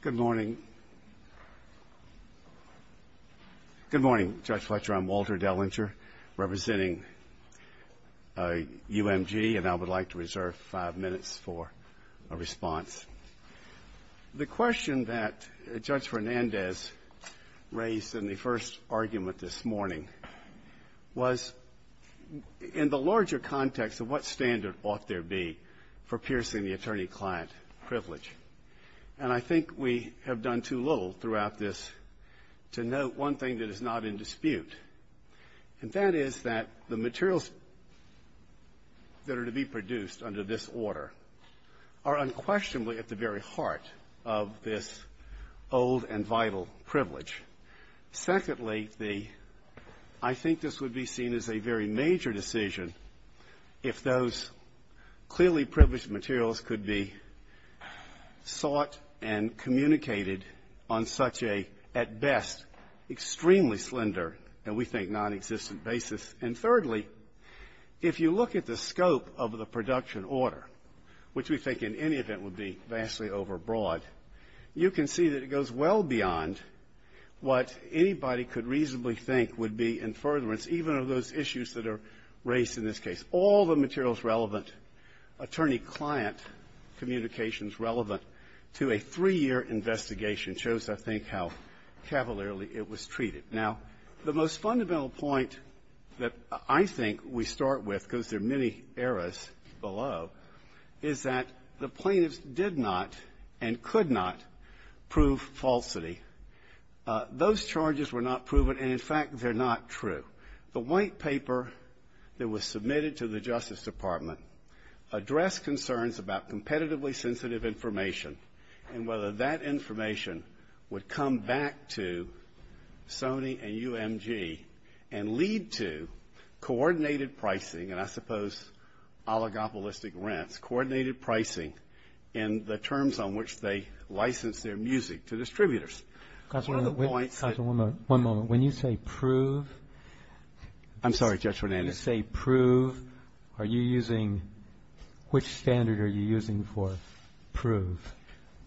Good morning. Good morning, Judge Fletcher. I'm Walter Dellinger, representing UMG, and I would like to reserve five minutes for a response. The question that Judge Fernandez raised in the first argument this morning was, in the larger context of what standard ought there to be for piercing the attorney-client privilege. And I think we have done too little throughout this to note one thing that is not in dispute, and that is that the materials that are to be produced under this order are unquestionably at the very heart of this old and vital privilege. Secondly, I think this would be seen as a very major decision if those clearly privileged materials could be sought and communicated on such a, at best, extremely slender and, we think, nonexistent basis. And thirdly, if you look at the scope of the production order, which we think in any event would be vastly overbroad, you can see that it goes well beyond what anybody could reasonably think would be in furtherance, even of those issues that are raised in this Now, the most fundamental point that I think we start with, because there are many errors below, is that the plaintiffs did not and could not prove falsity. Those charges were not proven, and, in fact, they're not true. The white paper that was submitted to the Justice Department addressed concerns about competitively sensitive information and whether that information would come back to Sony and UMG and lead to coordinated pricing, and I suppose oligopolistic rents, coordinated pricing in the terms on which they license their music to distributors. One of the points that One moment. When you say prove I'm sorry, Judge Fernandez When you say prove, are you using, which standard are you using for prove?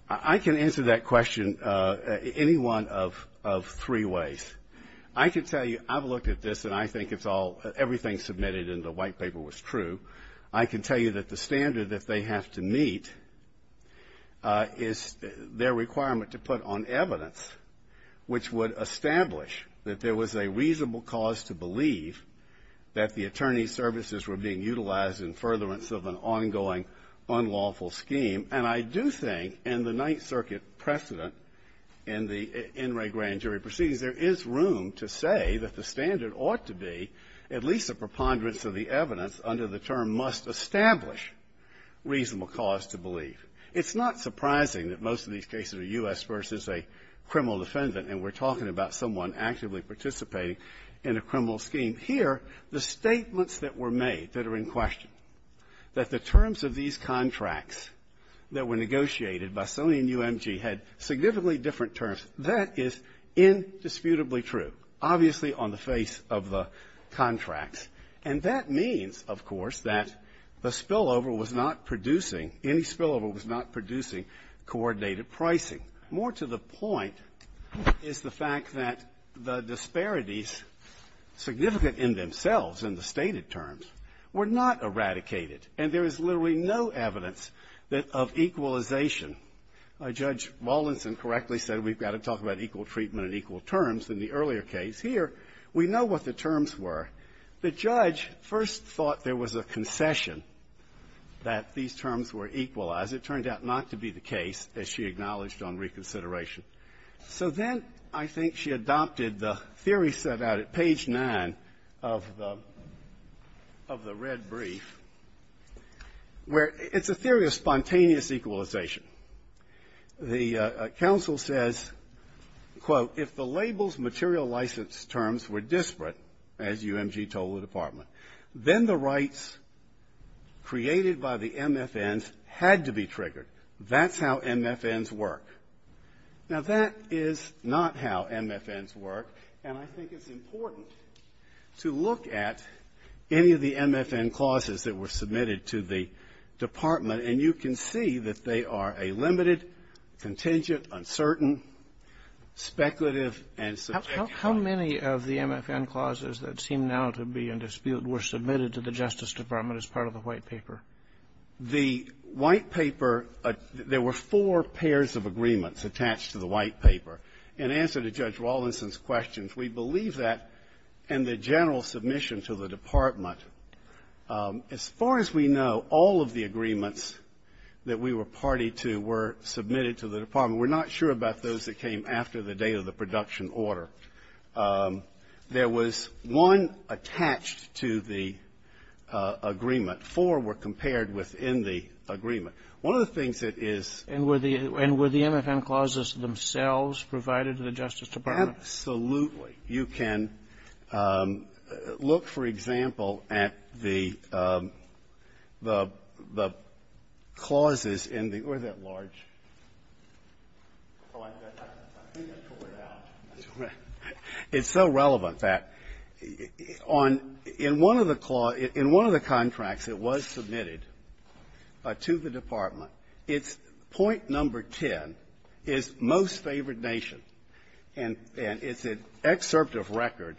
I can answer that question any one of three ways. I can tell you, I've looked at this, and I think it's all, everything submitted in the white paper was true. I can tell you that the standard that they have to meet is their requirement to put on evidence which would establish that there was a reasonable cause to believe that the attorney's services were being utilized in furtherance of an ongoing unlawful scheme. And I do think in the Ninth Circuit precedent, in the NRA grand jury proceedings, there is room to say that the standard ought to be at least a preponderance of the evidence under the term must establish reasonable cause to believe. It's not surprising that most of these cases are U.S. versus a criminal defendant, and we're talking about someone actively participating in a criminal scheme. Here, the statements that were made that are in question, that the terms of these contracts that were negotiated by Sony and UMG had significantly different terms, that is indisputably true, obviously on the face of the contracts. And that means, of course, that the spillover was not producing, any spillover was not producing coordinated pricing. More to the point is the fact that the disparities, significant in themselves in the stated terms, were not eradicated. And there is literally no evidence that of equalization. Judge Wallinson correctly said we've got to talk about equal treatment and equal terms in the earlier case. Here, we know what the terms were. The judge first thought there was a concession that these terms were equalized. It turned out not to be the case, as she acknowledged on reconsideration. So then I think she adopted the theory set out at page 9 of the red brief, where it's a theory of spontaneous equalization. The counsel says, quote, if the label's material license terms were disparate, as UMG told the Department, then the rights created by the MFNs had to be triggered. That's how MFNs work. Now, that is not how MFNs work. And I think it's important to look at any of the MFN clauses that were submitted to the Department, and you can see that they are a limited, contingent, uncertain, speculative, and subjective. How many of the MFN clauses that seem now to be in dispute were submitted to the Justice Department as part of the White Paper? The White Paper, there were four pairs of agreements attached to the White Paper. In answer to Judge Rawlinson's questions, we believe that in the general submission to the Department, as far as we know, all of the agreements that we were party to were submitted to the Department. We're not sure about those that came after the date of the production order. There was one attached to the agreement. Four were compared within the agreement. One of the things that is ---- And were the MFN clauses themselves provided to the Justice Department? Absolutely. You can look, for example, at the clauses in the or that large. It's so relevant that on ---- in one of the clauses ---- in one of the contracts that was submitted to the Department, it's point number 10 is most favored nation, and it's an excerpt of record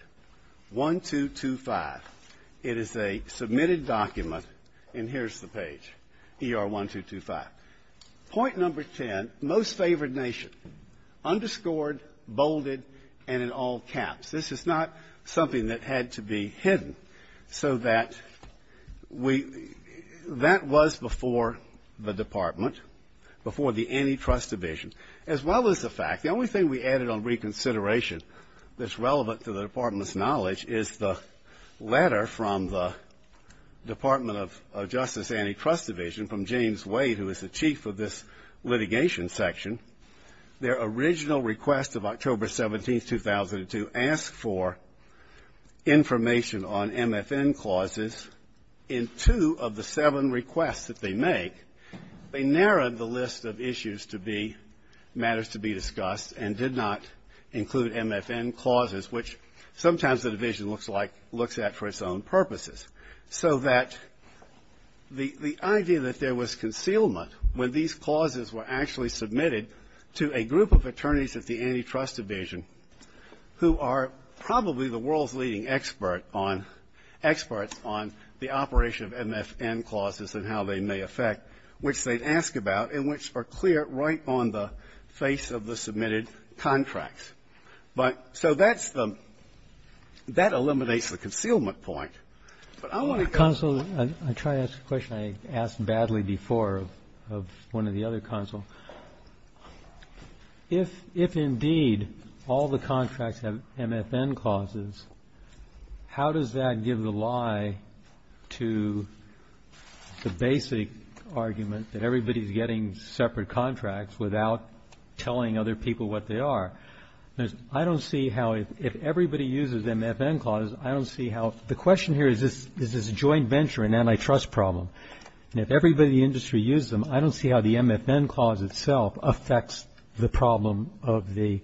1225. It is a submitted document, and here's the page, ER 1225. Point number 10, most favored nation, underscored, bolded, and in all caps. This is not something that had to be hidden so that we ---- that was before the Department, before the Antitrust Division, as well as the fact, the only thing we added on reconsideration that's relevant to the Department's knowledge is the letter from the Department of Justice Antitrust Division from James Wade, who is the chief of this litigation section. Their original request of October 17, 2002, asked for information on MFN clauses. In two of the seven requests that they make, they narrowed the list of issues to be ---- matters to be discussed and did not include MFN clauses, which sometimes the division looks like ---- looks at for its own purposes. So that the idea that there was concealment when these clauses were actually submitted to a group of attorneys at the Antitrust Division who are probably the world's leading expert on ---- experts on the operation of MFN clauses and how they may affect, which they ask about and which are clear right on the face of the submitted contracts. But so that's the ---- that eliminates the concealment point. But I want to go on. Roberts. Counsel, I try to ask a question I asked badly before of one of the other counsel. If indeed all the contracts have MFN clauses, how does that give the lie to the basic argument that everybody's getting separate contracts without telling other people what they are? I don't see how if everybody uses MFN clauses, I don't see how the MFN clause itself affects the problem of the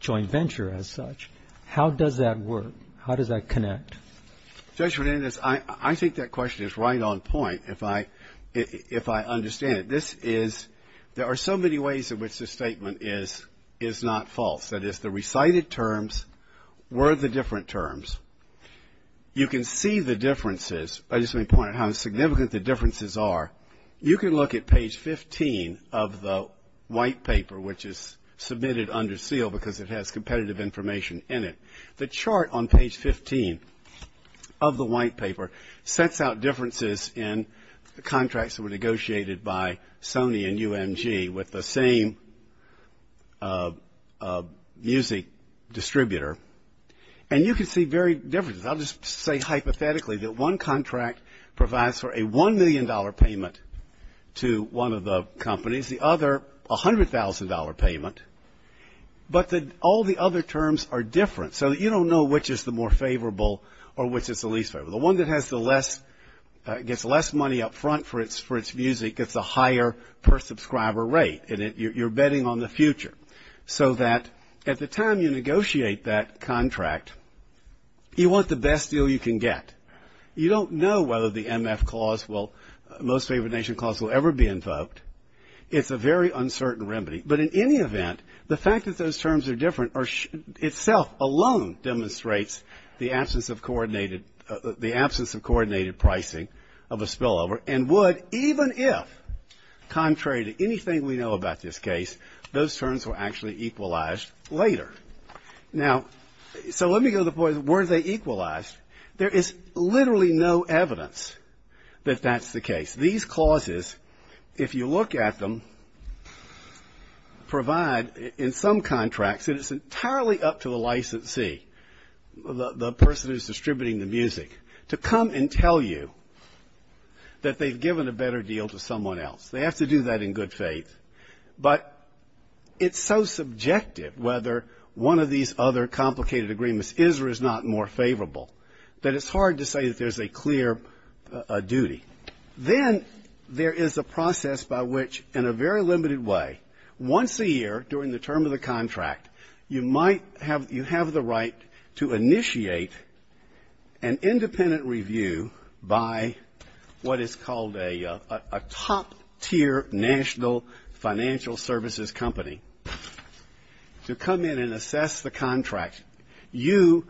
joint venture as such. How does that work? How does that connect? Justice Sotomayor, I think that question is right on point if I understand it. This is ---- there are so many ways in which this statement is not false. That is, the recited terms were the different terms. You can see the differences. I just want to point out how significant the differences are. You can look at page 15 of the white paper, which is submitted under seal because it has competitive information in it. The chart on page 15 of the white paper sets out differences in the contracts that were negotiated by different companies. I'll just say hypothetically that one contract provides for a $1 million payment to one of the companies. The other, a $100,000 payment. But all the other terms are different. So you don't know which is the more favorable or which is the least favorable. The one that has the less, gets less money up front for its music gets a higher per subscriber rate. And you're betting on the future. So that at the time you negotiate that contract, you want the best deal you can get. You don't know whether the MF clause will, most favored nation clause will ever be invoked. It's a very uncertain remedy. But in any event, the fact that those terms are different itself alone demonstrates the absence of coordinated pricing of a spillover and would even if, contrary to anything we know about this case, those terms were actually equalized later. Now, so let me go to the point of where they equalized. There is literally no evidence that that's the case. These clauses, if you look at them, provide in some contracts that it's entirely up to the licensee, the person who's distributing the music, to come and tell you that they've given a better deal to someone else. They have to do that in good faith. But it's so subjective whether one of these other complicated agreements is or is not more favorable that it's hard to say that there's a clear duty. Then there is a process by which, in a very limited way, once a year during the term of the contract, you might have you have the right to initiate an independent review by what is called a top-tier national financial services company to come in and assess the contract. You,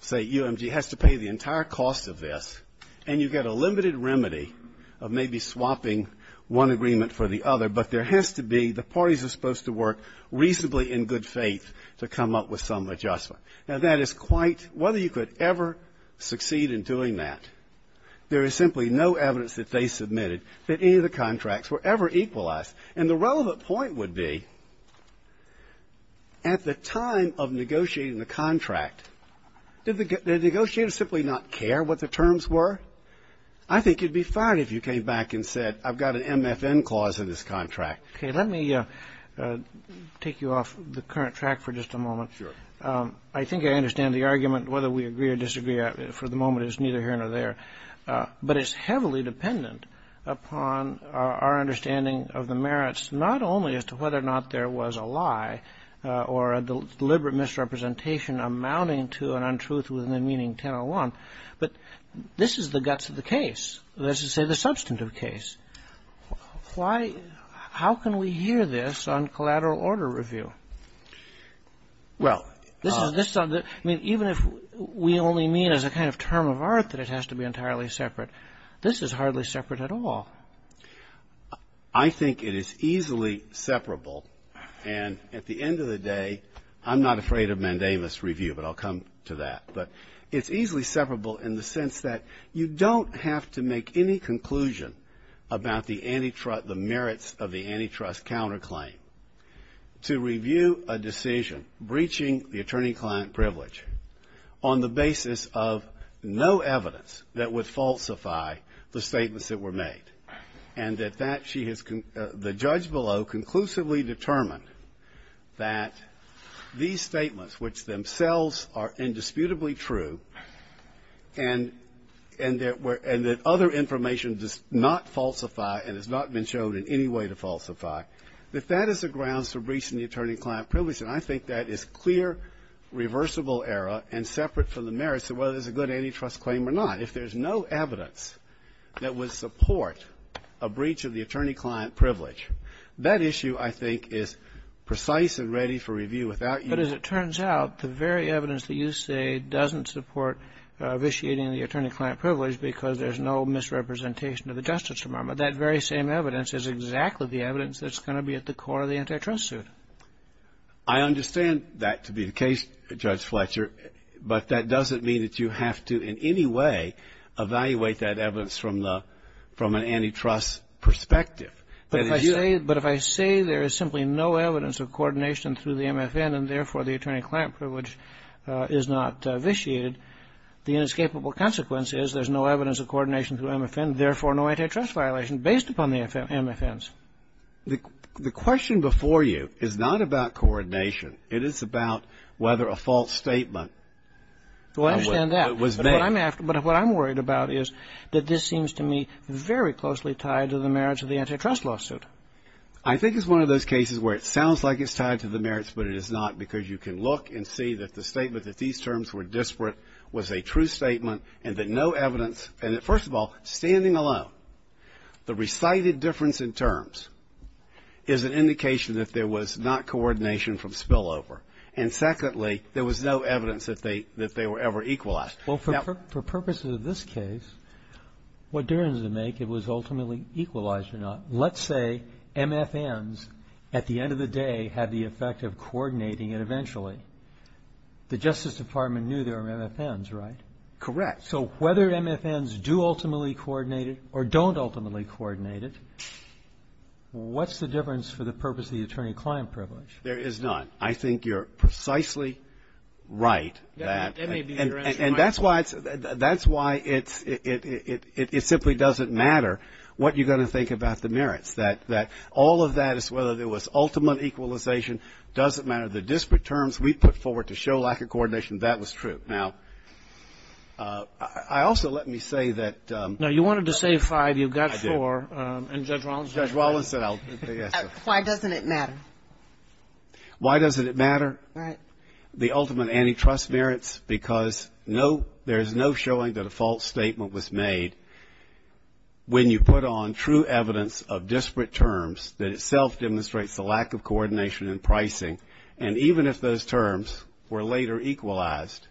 say UMG, has to pay the entire cost of this, and you get a limited remedy of maybe swapping one agreement for the other. But there has to be, the parties are supposed to work reasonably in good faith to come up with some adjustment. Now, that is quite — whether you could ever succeed in doing that, there is simply no evidence that they submitted that any of the contracts were ever equalized. And the relevant point would be, at the time of negotiating the contract, did the negotiator simply not care what the terms were? I think you'd be fired if you came back and said, I've got an MFN clause in this contract. Okay. Let me take you off the current track for just a moment. Sure. I think I understand the argument whether we agree or disagree for the moment is neither here nor there. But it's heavily dependent upon our understanding of the merits, not only as to whether or not there was a lie or a deliberate misrepresentation amounting to an untruth with the meaning 1001, but this is the guts of the case. This is, let's just say, the substantive case. How can we hear this on collateral order review? I mean, even if we only mean as a kind of term of art that it has to be entirely separate, this is hardly separate at all. I think it is easily separable. And at the end of the day, I'm not afraid of mandamus review, but I'll come to that. But it's easily separable in the sense that you don't have to make any conclusion about the merits of the antitrust counterclaim to review a decision breaching the attorney-client privilege on the basis of no evidence that would falsify the statements that were made and that the judge below conclusively determined that these statements, which themselves are indisputably true and that were false and that other information does not falsify and has not been shown in any way to falsify, that that is the grounds for breaching the attorney-client privilege. And I think that is clear, reversible error and separate from the merits of whether there's a good antitrust claim or not. If there's no evidence that would support a breach of the attorney-client privilege, that issue, I think, is precise and ready for review without you ---- But as it turns out, the very evidence that you say doesn't support vitiating the attorney-client privilege because there's no misrepresentation of the justice requirement, that very same evidence is exactly the evidence that's going to be at the core of the antitrust suit. I understand that to be the case, Judge Fletcher, but that doesn't mean that you have to in any way evaluate that evidence from the ---- from an antitrust perspective. But if I say there is simply no evidence of coordination through the MFN and, therefore, the attorney-client privilege is not vitiated, the inescapable consequence is there's no evidence of coordination through MFN, therefore, no antitrust violation based upon the MFNs. The question before you is not about coordination. It is about whether a false statement was made. Well, I understand that. But what I'm worried about is that this seems to me very closely tied to the merits of the antitrust lawsuit. I think it's one of those cases where it sounds like it's tied to the merits, but it is not because you can look and see that the statement that these terms were disparate was a true statement and that no evidence ---- and, first of all, standing alone, the recited difference in terms is an indication that there was not coordination from spillover. And, secondly, there was no evidence that they were ever equalized. Well, for purposes of this case, what difference does it make if it was ultimately equalized or not? Let's say MFNs, at the end of the day, had the effect of coordinating it eventually. The Justice Department knew there were MFNs, right? Correct. So whether MFNs do ultimately coordinate it or don't ultimately coordinate it, what's the difference for the purpose of the attorney-client privilege? There is none. I think you're precisely right that ---- That's why it's ---- that's why it's ---- it simply doesn't matter what you're going to think about the merits, that all of that is whether there was ultimate equalization doesn't matter. The disparate terms we put forward to show lack of coordination, that was true. Now, I also let me say that ---- No. You wanted to say five. You've got four. I did. And Judge Rollins ---- Judge Rollins said I'll ---- Why doesn't it matter? Why doesn't it matter? Right. The ultimate antitrust merits because no ---- there's no showing that a false statement was made when you put on true evidence of disparate terms that itself demonstrates the lack of coordination and pricing, and even if those terms were later equalized,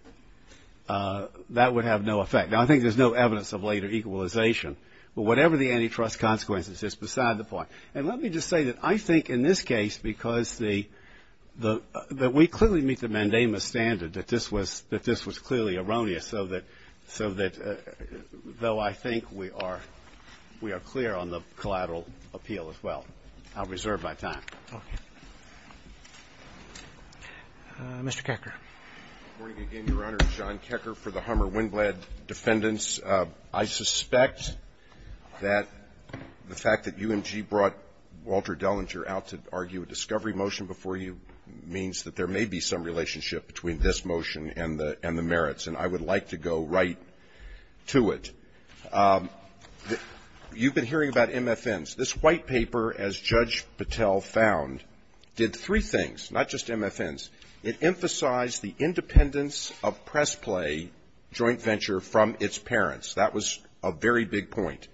that would have no effect. Now, I think there's no evidence of later equalization, but whatever the antitrust consequences, it's beside the point. And let me just say that I think in this case, because the ---- that we clearly meet the mandamus standard that this was ---- that this was clearly erroneous, so that ---- so that though I think we are ---- we are clear on the collateral appeal as well. I'll reserve my time. Okay. Mr. Kecker. Good morning again, Your Honor. John Kecker for the Hummer-Winblad defendants. I suspect that the fact that UMG brought Walter Dellinger out to argue a discovery motion before you means that there may be some relationship between this motion and the merits, and I would like to go right to it. You've been hearing about MFNs. This White Paper, as Judge Patel found, did three things, not just MFNs. It emphasized the independence of press play joint venture from its parents. That was a very big point,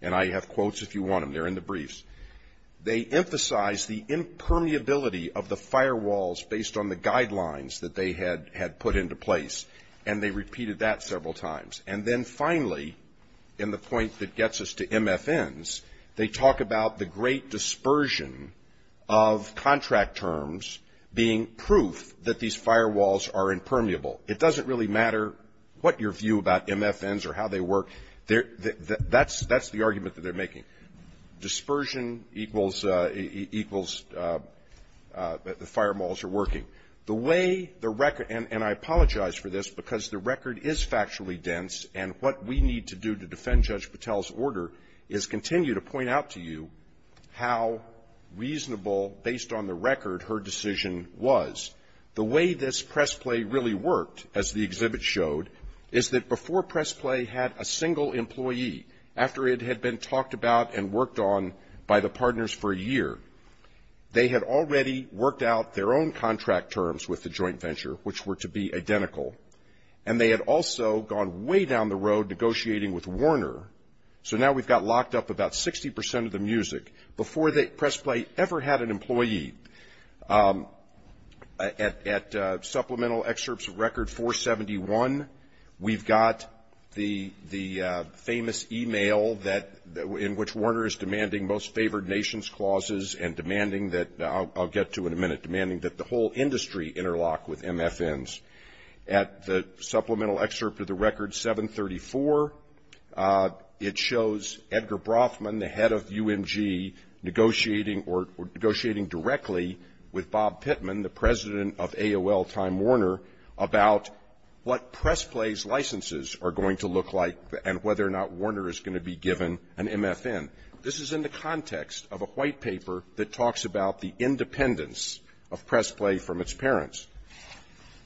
and I have quotes if you want them. They're in the briefs. They emphasized the impermeability of the firewalls based on the guidelines that they had put into place, and they repeated that several times. And then finally, in the point that gets us to MFNs, they talk about the great dispersion of contract terms being proof that these firewalls are impermeable. It doesn't really matter what your view about MFNs or how they work. That's the argument that they're making. Dispersion equals the firewalls are working. The way the record, and I apologize for this because the record is factually dense, and what we need to do to defend Judge Patel's order is continue to point out to you how reasonable, based on the record, her decision was. The way this press play really worked, as the exhibit showed, is that before press play had a single employee, after it had been talked about and worked on by the partners for a year, they had already worked out their own contract terms with the joint venture, which were to be identical, and they had also gone way down the road negotiating with Warner. So now we've got locked up about 60 percent of the music. Before press play ever had an employee, at supplemental excerpts of record 471, we've got the famous e-mail in which Warner is demanding most favored nations clauses and demanding that, I'll get to in a minute, demanding that the whole industry interlock with MFNs. At the supplemental excerpt of the record 734, it shows Edgar Brothman, the head of UMG, negotiating or negotiating directly with Bob Pittman, the president of AOL Time Warner, about what press play's licenses are going to look like and whether or not Warner is going to be given an MFN. This is in the context of a white paper that talks about the independence of press play from its parents.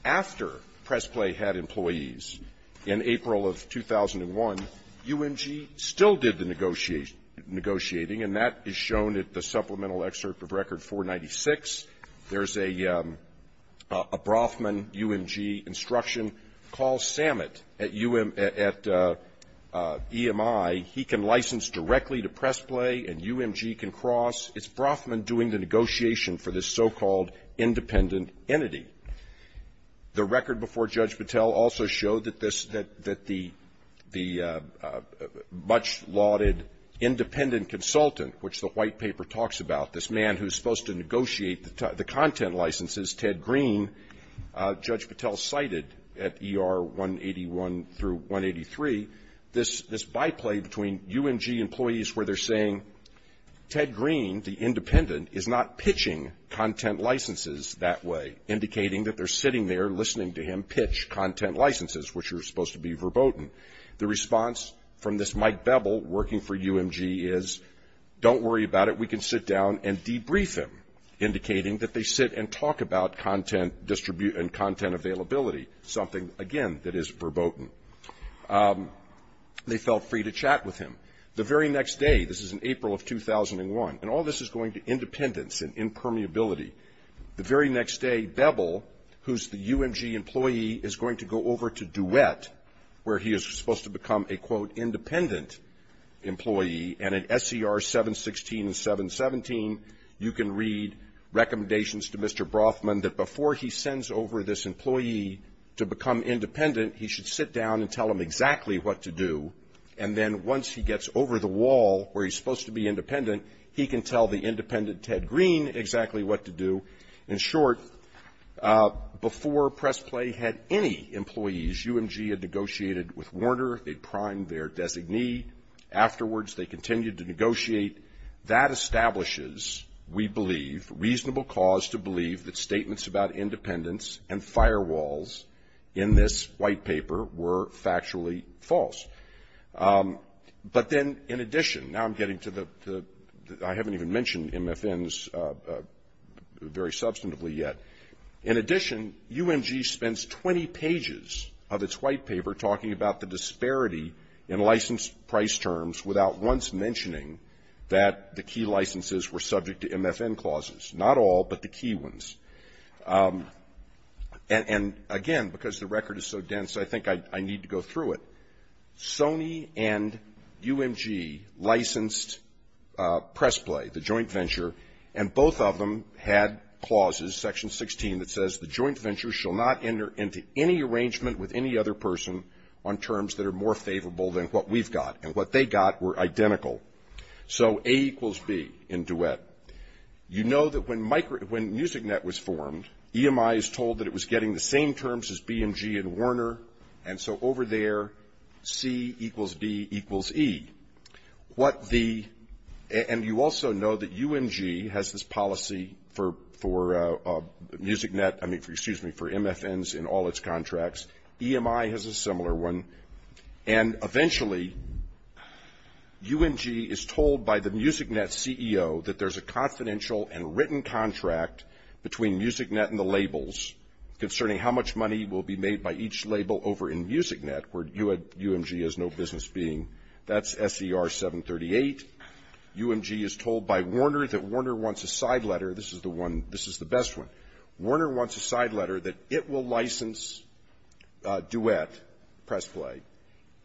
After press play had employees in April of 2001, UMG still did the negotiating, and that is shown at the supplemental excerpt of record 496. There's a Brothman-UMG instruction. Call Samet at UM at EMI. He can license directly to press play, and UMG can cross. It's Brothman doing the negotiation for this so-called independent entity. The record before Judge Patel also showed that this, that the much lauded independent consultant, which the white paper talks about, this man who's supposed to negotiate the content licenses, Ted Green, Judge Patel cited at ER 181 through 183, this byplay between UMG employees where they're saying, Ted Green, the independent, is not pitching content licenses that way, indicating that they're sitting there listening to him pitch content licenses, which are supposed to be verboten. The response from this Mike Bebel working for UMG is, don't worry about it, we can sit down and debrief him, indicating that they sit and talk about content availability, something, again, that is verboten. They felt free to chat with him. The very next day, this is in April of 2001, and all this is going to independence and impermeability. The very next day, Bebel, who's the UMG employee, is going to go over to Duet, where he is supposed to become a, quote, independent employee. And in SCR 716 and 717, you can read recommendations to Mr. Brothman that before he sends over this employee to become independent, he should sit down and tell him exactly what to do. And then once he gets over the wall where he's supposed to be independent, he can tell the independent, Ted Green, exactly what to do. In short, before press play had any employees, UMG had negotiated with Warner. They primed their designee. Afterwards, they continued to negotiate. That establishes, we believe, reasonable cause to believe that statements about independence and firewalls in this white paper were factually false. But then, in addition, now I'm getting to the, I haven't even mentioned MFNs very substantively yet. In addition, UMG spends 20 pages of its white paper talking about the disparity in license price terms without once mentioning that the key licenses were subject to MFN clauses, not all but the key ones. And, again, because the record is so dense, I think I need to go through it. Sony and UMG licensed press play, the joint venture, and both of them had clauses, Section 16, that says the joint venture shall not enter into any arrangement with any other person on terms that are more favorable than what we've got. And what they got were identical. So A equals B in duet. You know that when MusicNet was formed, EMI is told that it was getting the same terms as BMG and Warner, and so over there, C equals B equals E. And you also know that UMG has this policy for MFNs in all its contracts. EMI has a similar one. And, eventually, UMG is told by the MusicNet CEO that there's a confidential and written contract between MusicNet and the labels concerning how much money will be made by each label over in MusicNet, where UMG has no business being. That's SER 738. UMG is told by Warner that Warner wants a side letter. This is the one. This is the best one. Warner wants a side letter that it will license duet press play,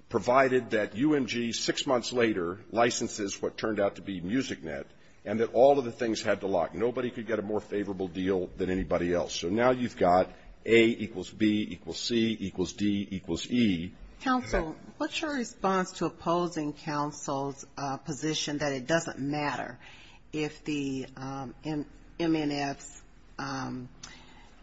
provided that UMG six months later licenses what turned out to be MusicNet and that all of the things had to lock. Nobody could get a more favorable deal than anybody else. So now you've got A equals B equals C equals D equals E. Counsel, what's your response to opposing counsel's position that it doesn't matter if the MNFs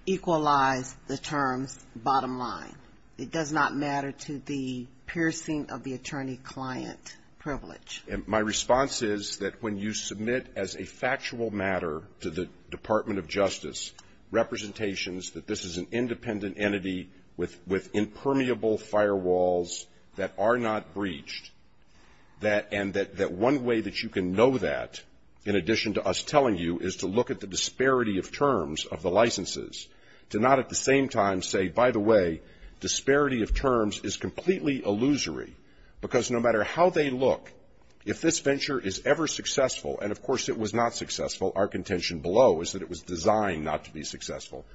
equalize the terms bottom line? It does not matter to the piercing of the attorney-client privilege? My response is that when you submit as a factual matter to the Department of Justice representations that this is an independent entity with impermeable firewalls that are not breached, and that one way that you can know that in addition to us telling you is to look at the disparity of terms of the licenses, to not at the same time say, by the way, disparity of terms is completely illusory, because no matter how they look, if this venture is ever successful, and of course it was not successful, our contention below is that it was designed not to be successful,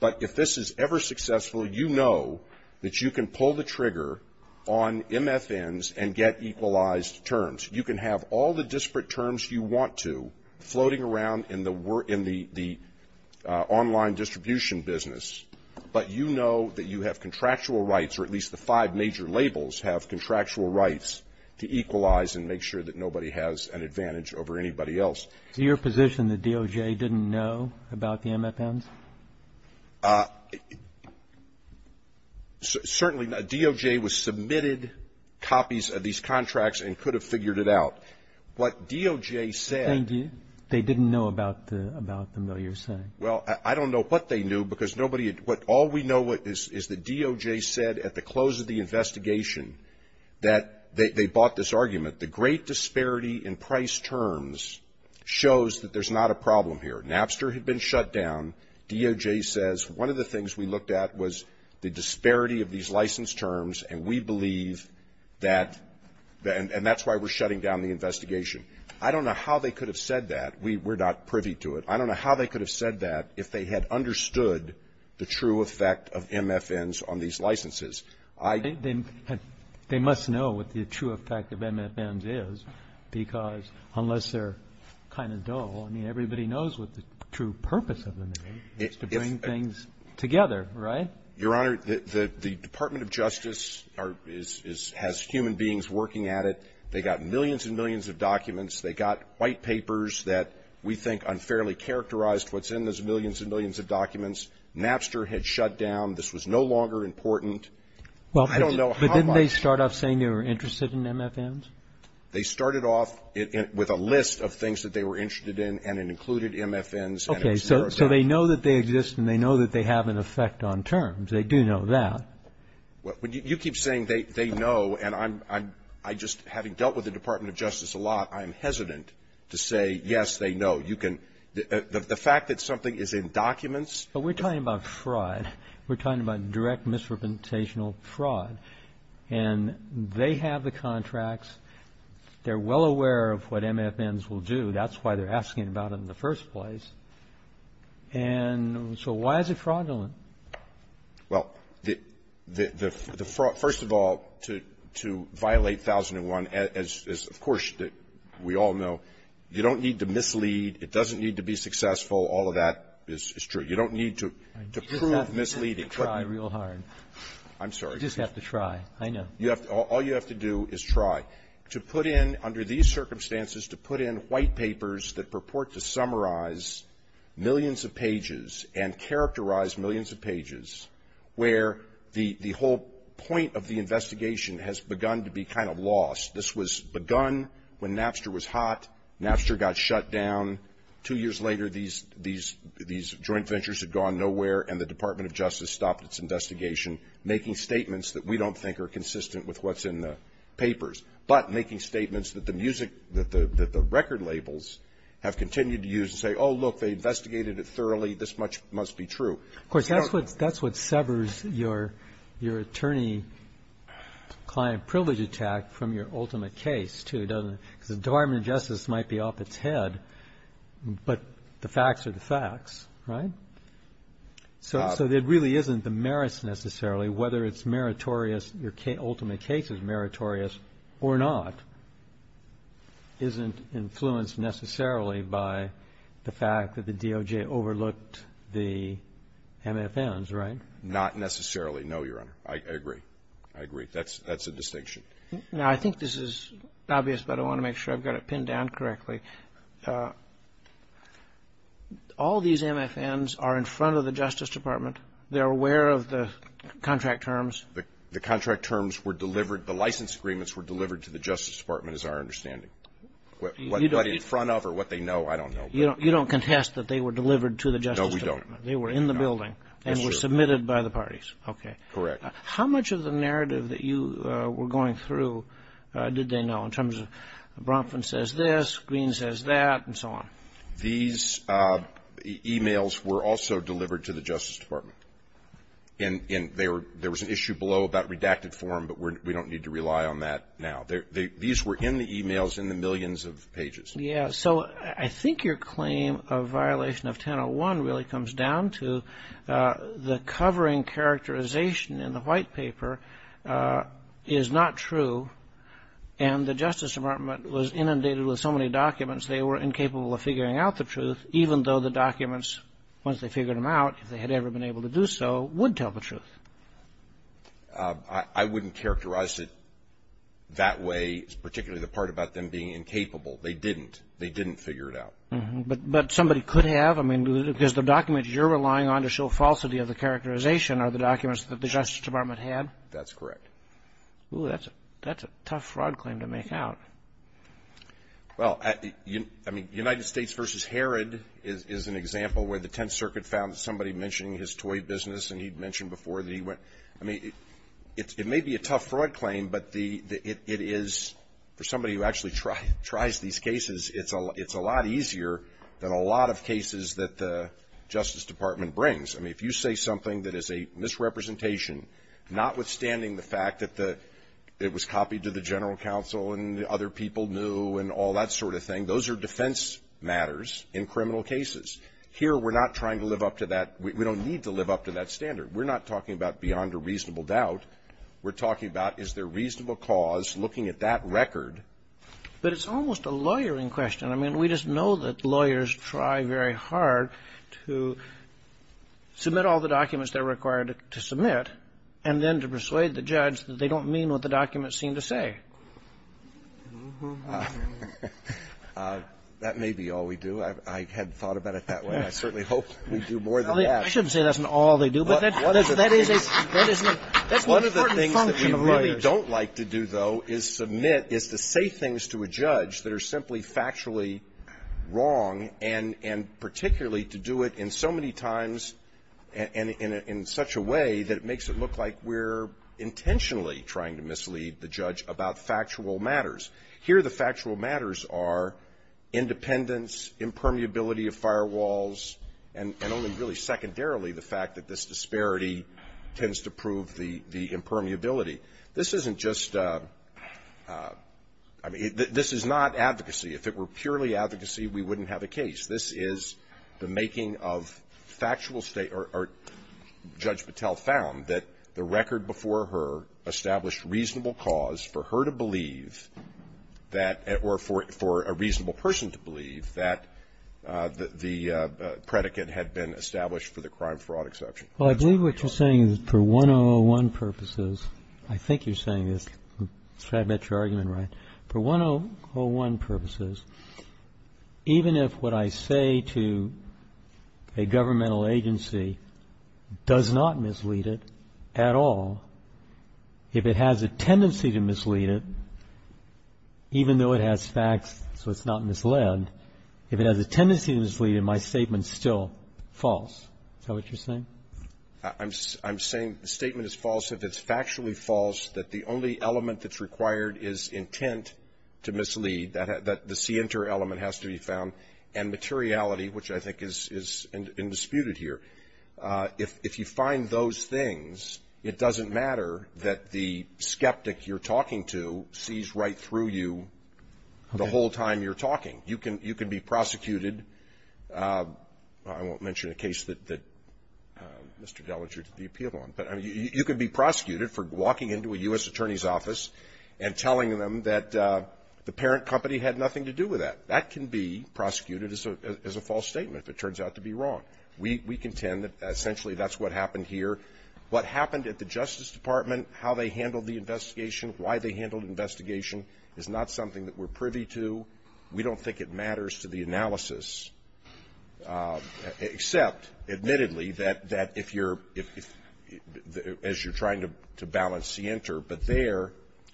but if this is ever successful, you know that you can pull the trigger on MFNs and get equalized terms. You can have all the disparate terms you want to floating around in the online distribution business, but you know that you have contractual rights or at least the five major labels have contractual rights to equalize and make sure that nobody has an advantage over anybody else. Is it your position that DOJ didn't know about the MFNs? Certainly. DOJ was submitted copies of these contracts and could have figured it out. What DOJ said they didn't know about them, though, you're saying. Well, I don't know what they knew, because nobody at all we know is the DOJ said at the close of the investigation that they bought this argument. The great disparity in price terms shows that there's not a problem here. Napster had been shut down. DOJ says one of the things we looked at was the disparity of these license terms, and we believe that, and that's why we're shutting down the investigation. I don't know how they could have said that. We're not privy to it. I don't know how they could have said that if they had understood the true effect of MFNs on these licenses. They must know what the true effect of MFNs is, because unless they're kind of dull, I mean, everybody knows what the true purpose of them is. It's to bring things together, right? Your Honor, the Department of Justice has human beings working at it. They got millions and millions of documents. They got white papers that we think unfairly characterized what's in those millions and millions of documents. Napster had shut down. This was no longer important. I don't know how much. But didn't they start off saying they were interested in MFNs? They started off with a list of things that they were interested in, and it included MFNs. Okay. So they know that they exist, and they know that they have an effect on terms. They do know that. You keep saying they know, and I just, having dealt with the Department of Justice a lot, I'm hesitant to say, yes, they know. You can the fact that something is in documents. But we're talking about fraud. We're talking about direct misrepresentational fraud. And they have the contracts. They're well aware of what MFNs will do. That's why they're asking about it in the first place. And so why is it fraudulent? Well, the fraud, first of all, to violate 1001, as of course we all know, you don't need to mislead. It doesn't need to be successful. All of that is true. You don't need to prove misleading. I just have to try real hard. I'm sorry. I just have to try. I know. All you have to do is try. To put in, under these circumstances, to put in white papers that purport to summarize millions of pages and characterize millions of pages where the whole point of the investigation has begun to be kind of lost. This was begun when Napster was hot. Napster got shut down. Two years later, these joint ventures had gone nowhere, and the Department of Justice stopped its investigation, making statements that we don't think are consistent with what's in the papers, but making statements that the record labels have continued to use and say, oh, look, they investigated it thoroughly. This much must be true. Of course, that's what severs your attorney-client privilege attack from your ultimate case, too, doesn't it? Because the Department of Justice might be off its head, but the facts are the facts, right? So it really isn't the merits necessarily, whether it's meritorious, your ultimate case is meritorious or not, isn't influenced necessarily by the fact that the DOJ overlooked the MFNs, right? Not necessarily, no, Your Honor. I agree. I agree. That's a distinction. Now, I think this is obvious, but I want to make sure I've got it pinned down correctly. All these MFNs are in front of the Justice Department. They're aware of the contract terms. The contract terms were delivered, the license agreements were delivered to the Justice Department, is our understanding. What in front of or what they know, I don't know. You don't contest that they were delivered to the Justice Department. No, we don't. They were in the building and were submitted by the parties. Okay. How much of the narrative that you were going through did they know in terms of Bronfen says this, Green says that, and so on? These e-mails were also delivered to the Justice Department. And there was an issue below about redacted form, but we don't need to rely on that now. These were in the e-mails in the millions of pages. Yeah. So I think your claim of violation of 1001 really comes down to the covering characterization in the white paper is not true. And the Justice Department was inundated with so many documents they were incapable of figuring out the truth, even though the documents, once they figured them out, if they had ever been able to do so, would tell the truth. I wouldn't characterize it that way, particularly the part about them being incapable. They didn't. They didn't figure it out. But somebody could have. I mean, because the documents you're relying on to show falsity of the characterization are the documents that the Justice Department had? That's correct. Ooh, that's a tough fraud claim to make out. Well, I mean, United States v. Herod is an example where the Tenth Circuit found somebody mentioning his toy business, and he'd mentioned before that he went. I mean, it may be a tough fraud claim, but it is, for somebody who actually tries these cases, it's a lot easier than a lot of cases that the Justice Department brings. I mean, if you say something that is a misrepresentation, notwithstanding the fact that it was copied to the General Counsel and other people knew and all that sort of thing, those are defense matters in criminal cases. Here, we're not trying to live up to that. We don't need to live up to that standard. We're not talking about beyond a reasonable doubt. We're talking about is there reasonable cause looking at that record. But it's almost a lawyering question. I mean, we just know that lawyers try very hard to submit all the documents that are required to submit, and then to persuade the judge that they don't mean what the documents seem to say. That may be all we do. I hadn't thought about it that way. I certainly hope we do more than that. I shouldn't say that's an all they do, but that is a – that is an important function of lawyers. What I don't like to do, though, is submit, is to say things to a judge that are simply factually wrong, and particularly to do it in so many times and in such a way that it makes it look like we're intentionally trying to mislead the judge about factual matters. Here, the factual matters are independence, impermeability of firewalls, and only really secondarily the fact that this disparity tends to prove the impermeability. This isn't just – I mean, this is not advocacy. If it were purely advocacy, we wouldn't have a case. This is the making of factual state – or Judge Patel found that the record before her established reasonable cause for her to believe that – or for a reasonable person to believe that the predicate had been established for the crime fraud exception. Well, I believe what you're saying is for 1001 purposes – I think you're saying this. I'm sure I've got your argument right. For 1001 purposes, even if what I say to a governmental agency does not mislead it at all, if it has a tendency to mislead it, even though it has facts so it's not misled, if it has a tendency to mislead it, my statement's still false. Is that what you're saying? I'm saying the statement is false if it's factually false that the only element that's required is intent to mislead, that the c inter element has to be found, and materiality, which I think is indisputed here. If you find those things, it doesn't matter that the skeptic you're talking to sees right through you the whole time you're talking. You can be prosecuted – I won't Mr. Dellinger to the appeal on – but you can be prosecuted for walking into a U.S. attorney's office and telling them that the parent company had nothing to do with that. That can be prosecuted as a false statement if it turns out to be wrong. We contend that essentially that's what happened here. What happened at the Justice Department, how they handled the investigation, why they handled the investigation is not something that we're privy to. We don't think it matters to the analysis, except, admittedly, that if you're – as you're trying to balance c inter, but there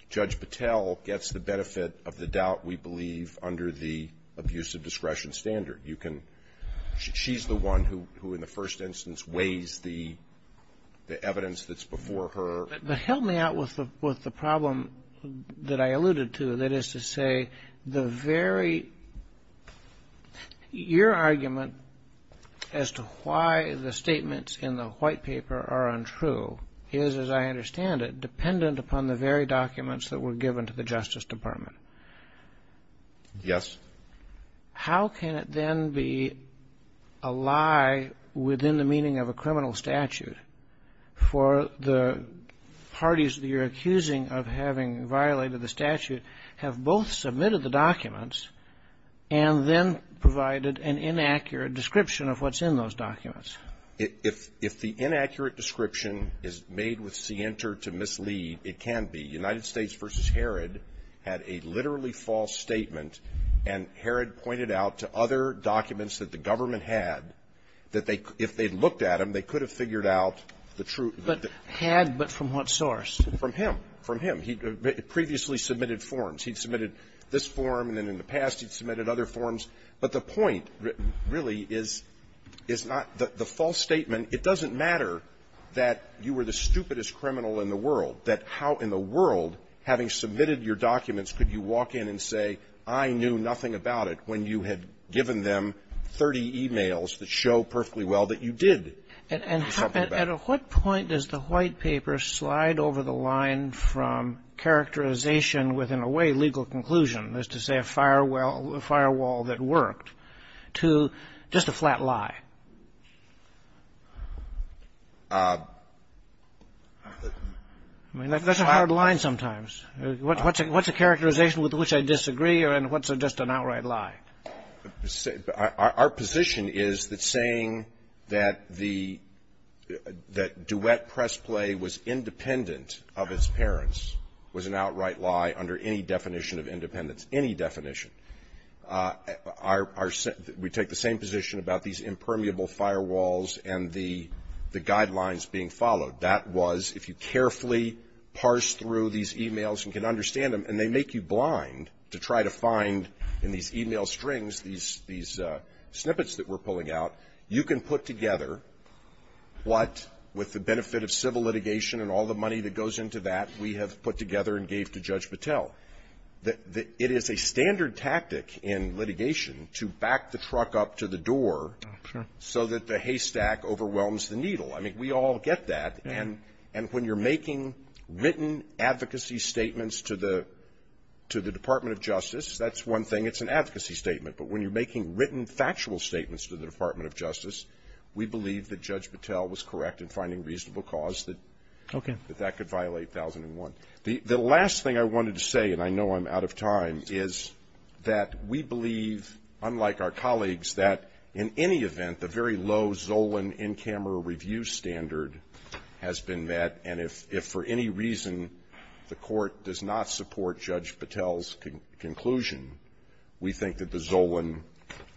Judge Patel gets the benefit of the doubt we believe under the abuse of discretion standard. You can – she's the one who in the first instance weighs the evidence that's before her. But help me out with the problem that I alluded to, that is to say the very – your argument as to why the statements in the white paper are untrue is, as I understand it, dependent upon the very documents that were given to the Justice Department. Yes. How can it then be a lie within the meaning of a criminal statute for the parties that you're accusing of having violated the statute have both submitted the documents and then provided an inaccurate description of what's in those documents? If the inaccurate description is made with c inter to mislead, it can be. United States. And Herod pointed out to other documents that the government had that they – if they looked at them, they could have figured out the true – But had, but from what source? From him. From him. He'd previously submitted forms. He'd submitted this form, and then in the past he'd submitted other forms. But the point really is – is not – the false statement, it doesn't matter that you were the stupidest criminal in the world, that how in the world, having submitted your documents, could you walk in and say, I knew nothing about it, when you had given them 30 e-mails that show perfectly well that you did know something about it? And at what point does the White Paper slide over the line from characterization with, in a way, legal conclusion, as to say a firewall that worked, to just a flat lie? I mean, that's a hard line sometimes. What's a characterization with which I disagree, or what's just an outright lie? Our position is that saying that the – that duet press play was independent of its parents was an outright lie under any definition of independence, any definition. Our – we take the same position about these impermeable firewalls and the guidelines being followed. That was, if you carefully parse through these e-mails and can understand them, and they make you blind to try to find in these e-mail strings these – these snippets that we're pulling out, you can put together what, with the benefit of civil litigation and all the money that goes into that, we have put together and gave to Judge Patel. I mean, we all get that. And when you're making written advocacy statements to the – to the Department of Justice, that's one thing. It's an advocacy statement. But when you're making written factual statements to the Department of Justice, we believe that Judge Patel was correct in finding reasonable cause that that could violate 1001. The last thing I wanted to say, and I know I'm out of time, is that we believe, unlike our colleagues, that in any event, the very low Zolan in-camera review standard has been met, and if for any reason the Court does not support Judge Patel's conclusion, we think that the Zolan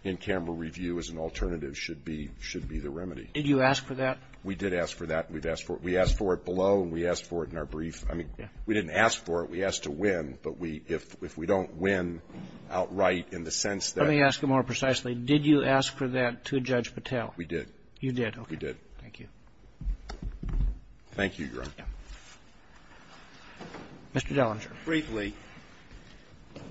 in-camera review as an alternative should be – should be the remedy. Did you ask for that? We did ask for that. We've asked for it. We asked for it below, and we asked for it in our brief. I mean, we didn't ask for it. We asked to win. But we – if we don't win outright in the sense that we asked for it below, we asked for it in our brief. Let me ask you more precisely. Did you ask for that to Judge Patel? We did. You did. Okay. We did. Thank you. Thank you, Your Honor. Mr. Dellinger. Briefly,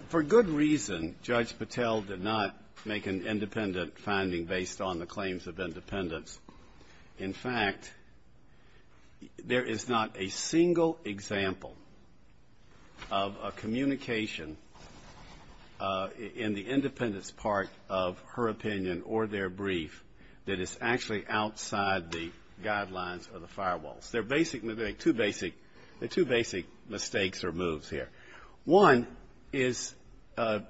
for good reason, Judge Patel did not make an independent finding based on the claims of independence. In fact, there is not a single example of a communication in the independence part of her opinion or their brief that is actually outside the guidelines or the firewalls. There are basically two basic – there are two basic mistakes or moves here. One is to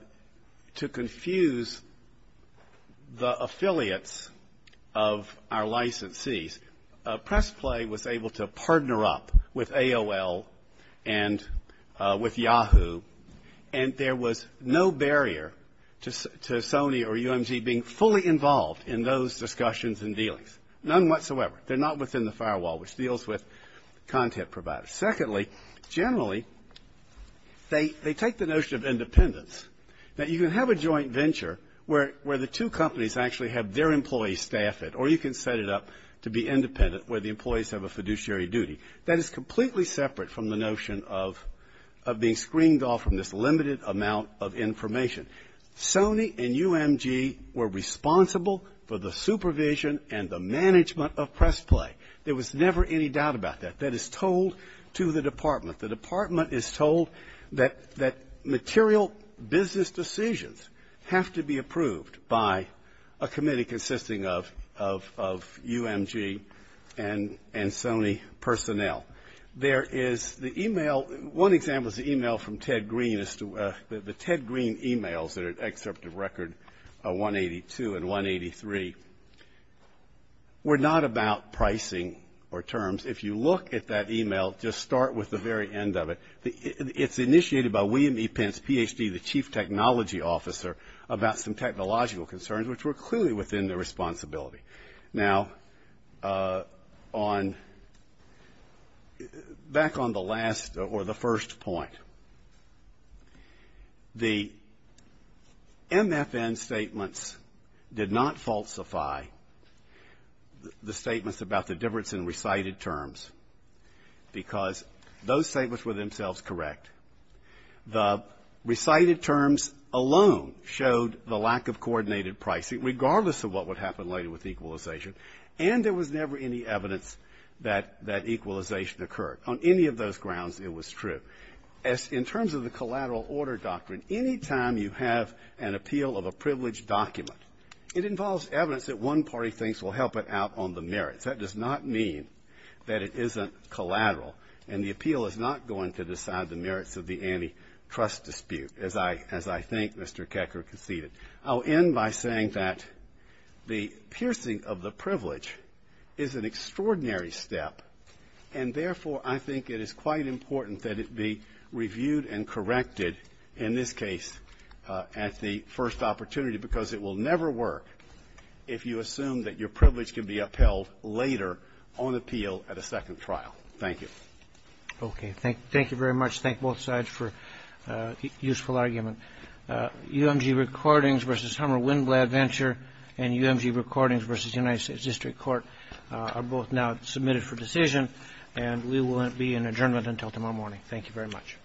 confuse the affiliates of our licensees. Press Play was able to partner up with AOL and with Yahoo, and there was no barrier to Sony or UMG being fully involved in those discussions and dealings. None whatsoever. They're not within the firewall, which deals with content providers. Secondly, generally, they take the notion of independence, that you can have a joint venture where the two companies actually have their employees staff it, or you can set it up to be independent where the employees have a fiduciary duty. That is completely separate from the notion of being screened off from this limited amount of information. Sony and UMG were responsible for the supervision and the management of Press Play. There was never any doubt about that. That is told to the department. The department is told that material business decisions have to be approved by a committee consisting of UMG and Sony personnel. There is the email – one example is the email from Ted Green as to – the Ted Green emails that are excerpt of record 182 and 183 were not about pricing or terms. If you look at that email, just start with the very end of it. It's initiated by William E. Pence, PhD, the Chief Technology Officer, about some technological concerns, which were clearly within their responsibility. Now, on – back on the last or the first point. The MFN statements did not falsify the statements about the difference in recited terms, because those statements were themselves correct. The recited terms alone showed the lack of coordinated pricing, regardless of what would happen later with equalization. And there was never any evidence that that equalization occurred. On any of those grounds, it was true. As – in terms of the collateral order doctrine, any time you have an appeal of a privileged document, it involves evidence that one party thinks will help it out on the merits. That does not mean that it isn't collateral. And the appeal is not going to decide the merits of the antitrust dispute, as I think Mr. Kecker conceded. I'll end by saying that the piercing of the privilege is an extraordinary step. And therefore, I think it is quite important that it be reviewed and corrected, in this case, at the first opportunity, because it will never work if you assume that your privilege can be upheld later on appeal at a second trial. Thank you. Okay. Thank you very much. Thank both sides for a useful argument. UMG Recordings v. Hummer-Winblad Venture and UMG Recordings v. United States District Court are both now submitted for decision, and we will be in adjournment until tomorrow morning. Thank you very much. Thank you. Thank you.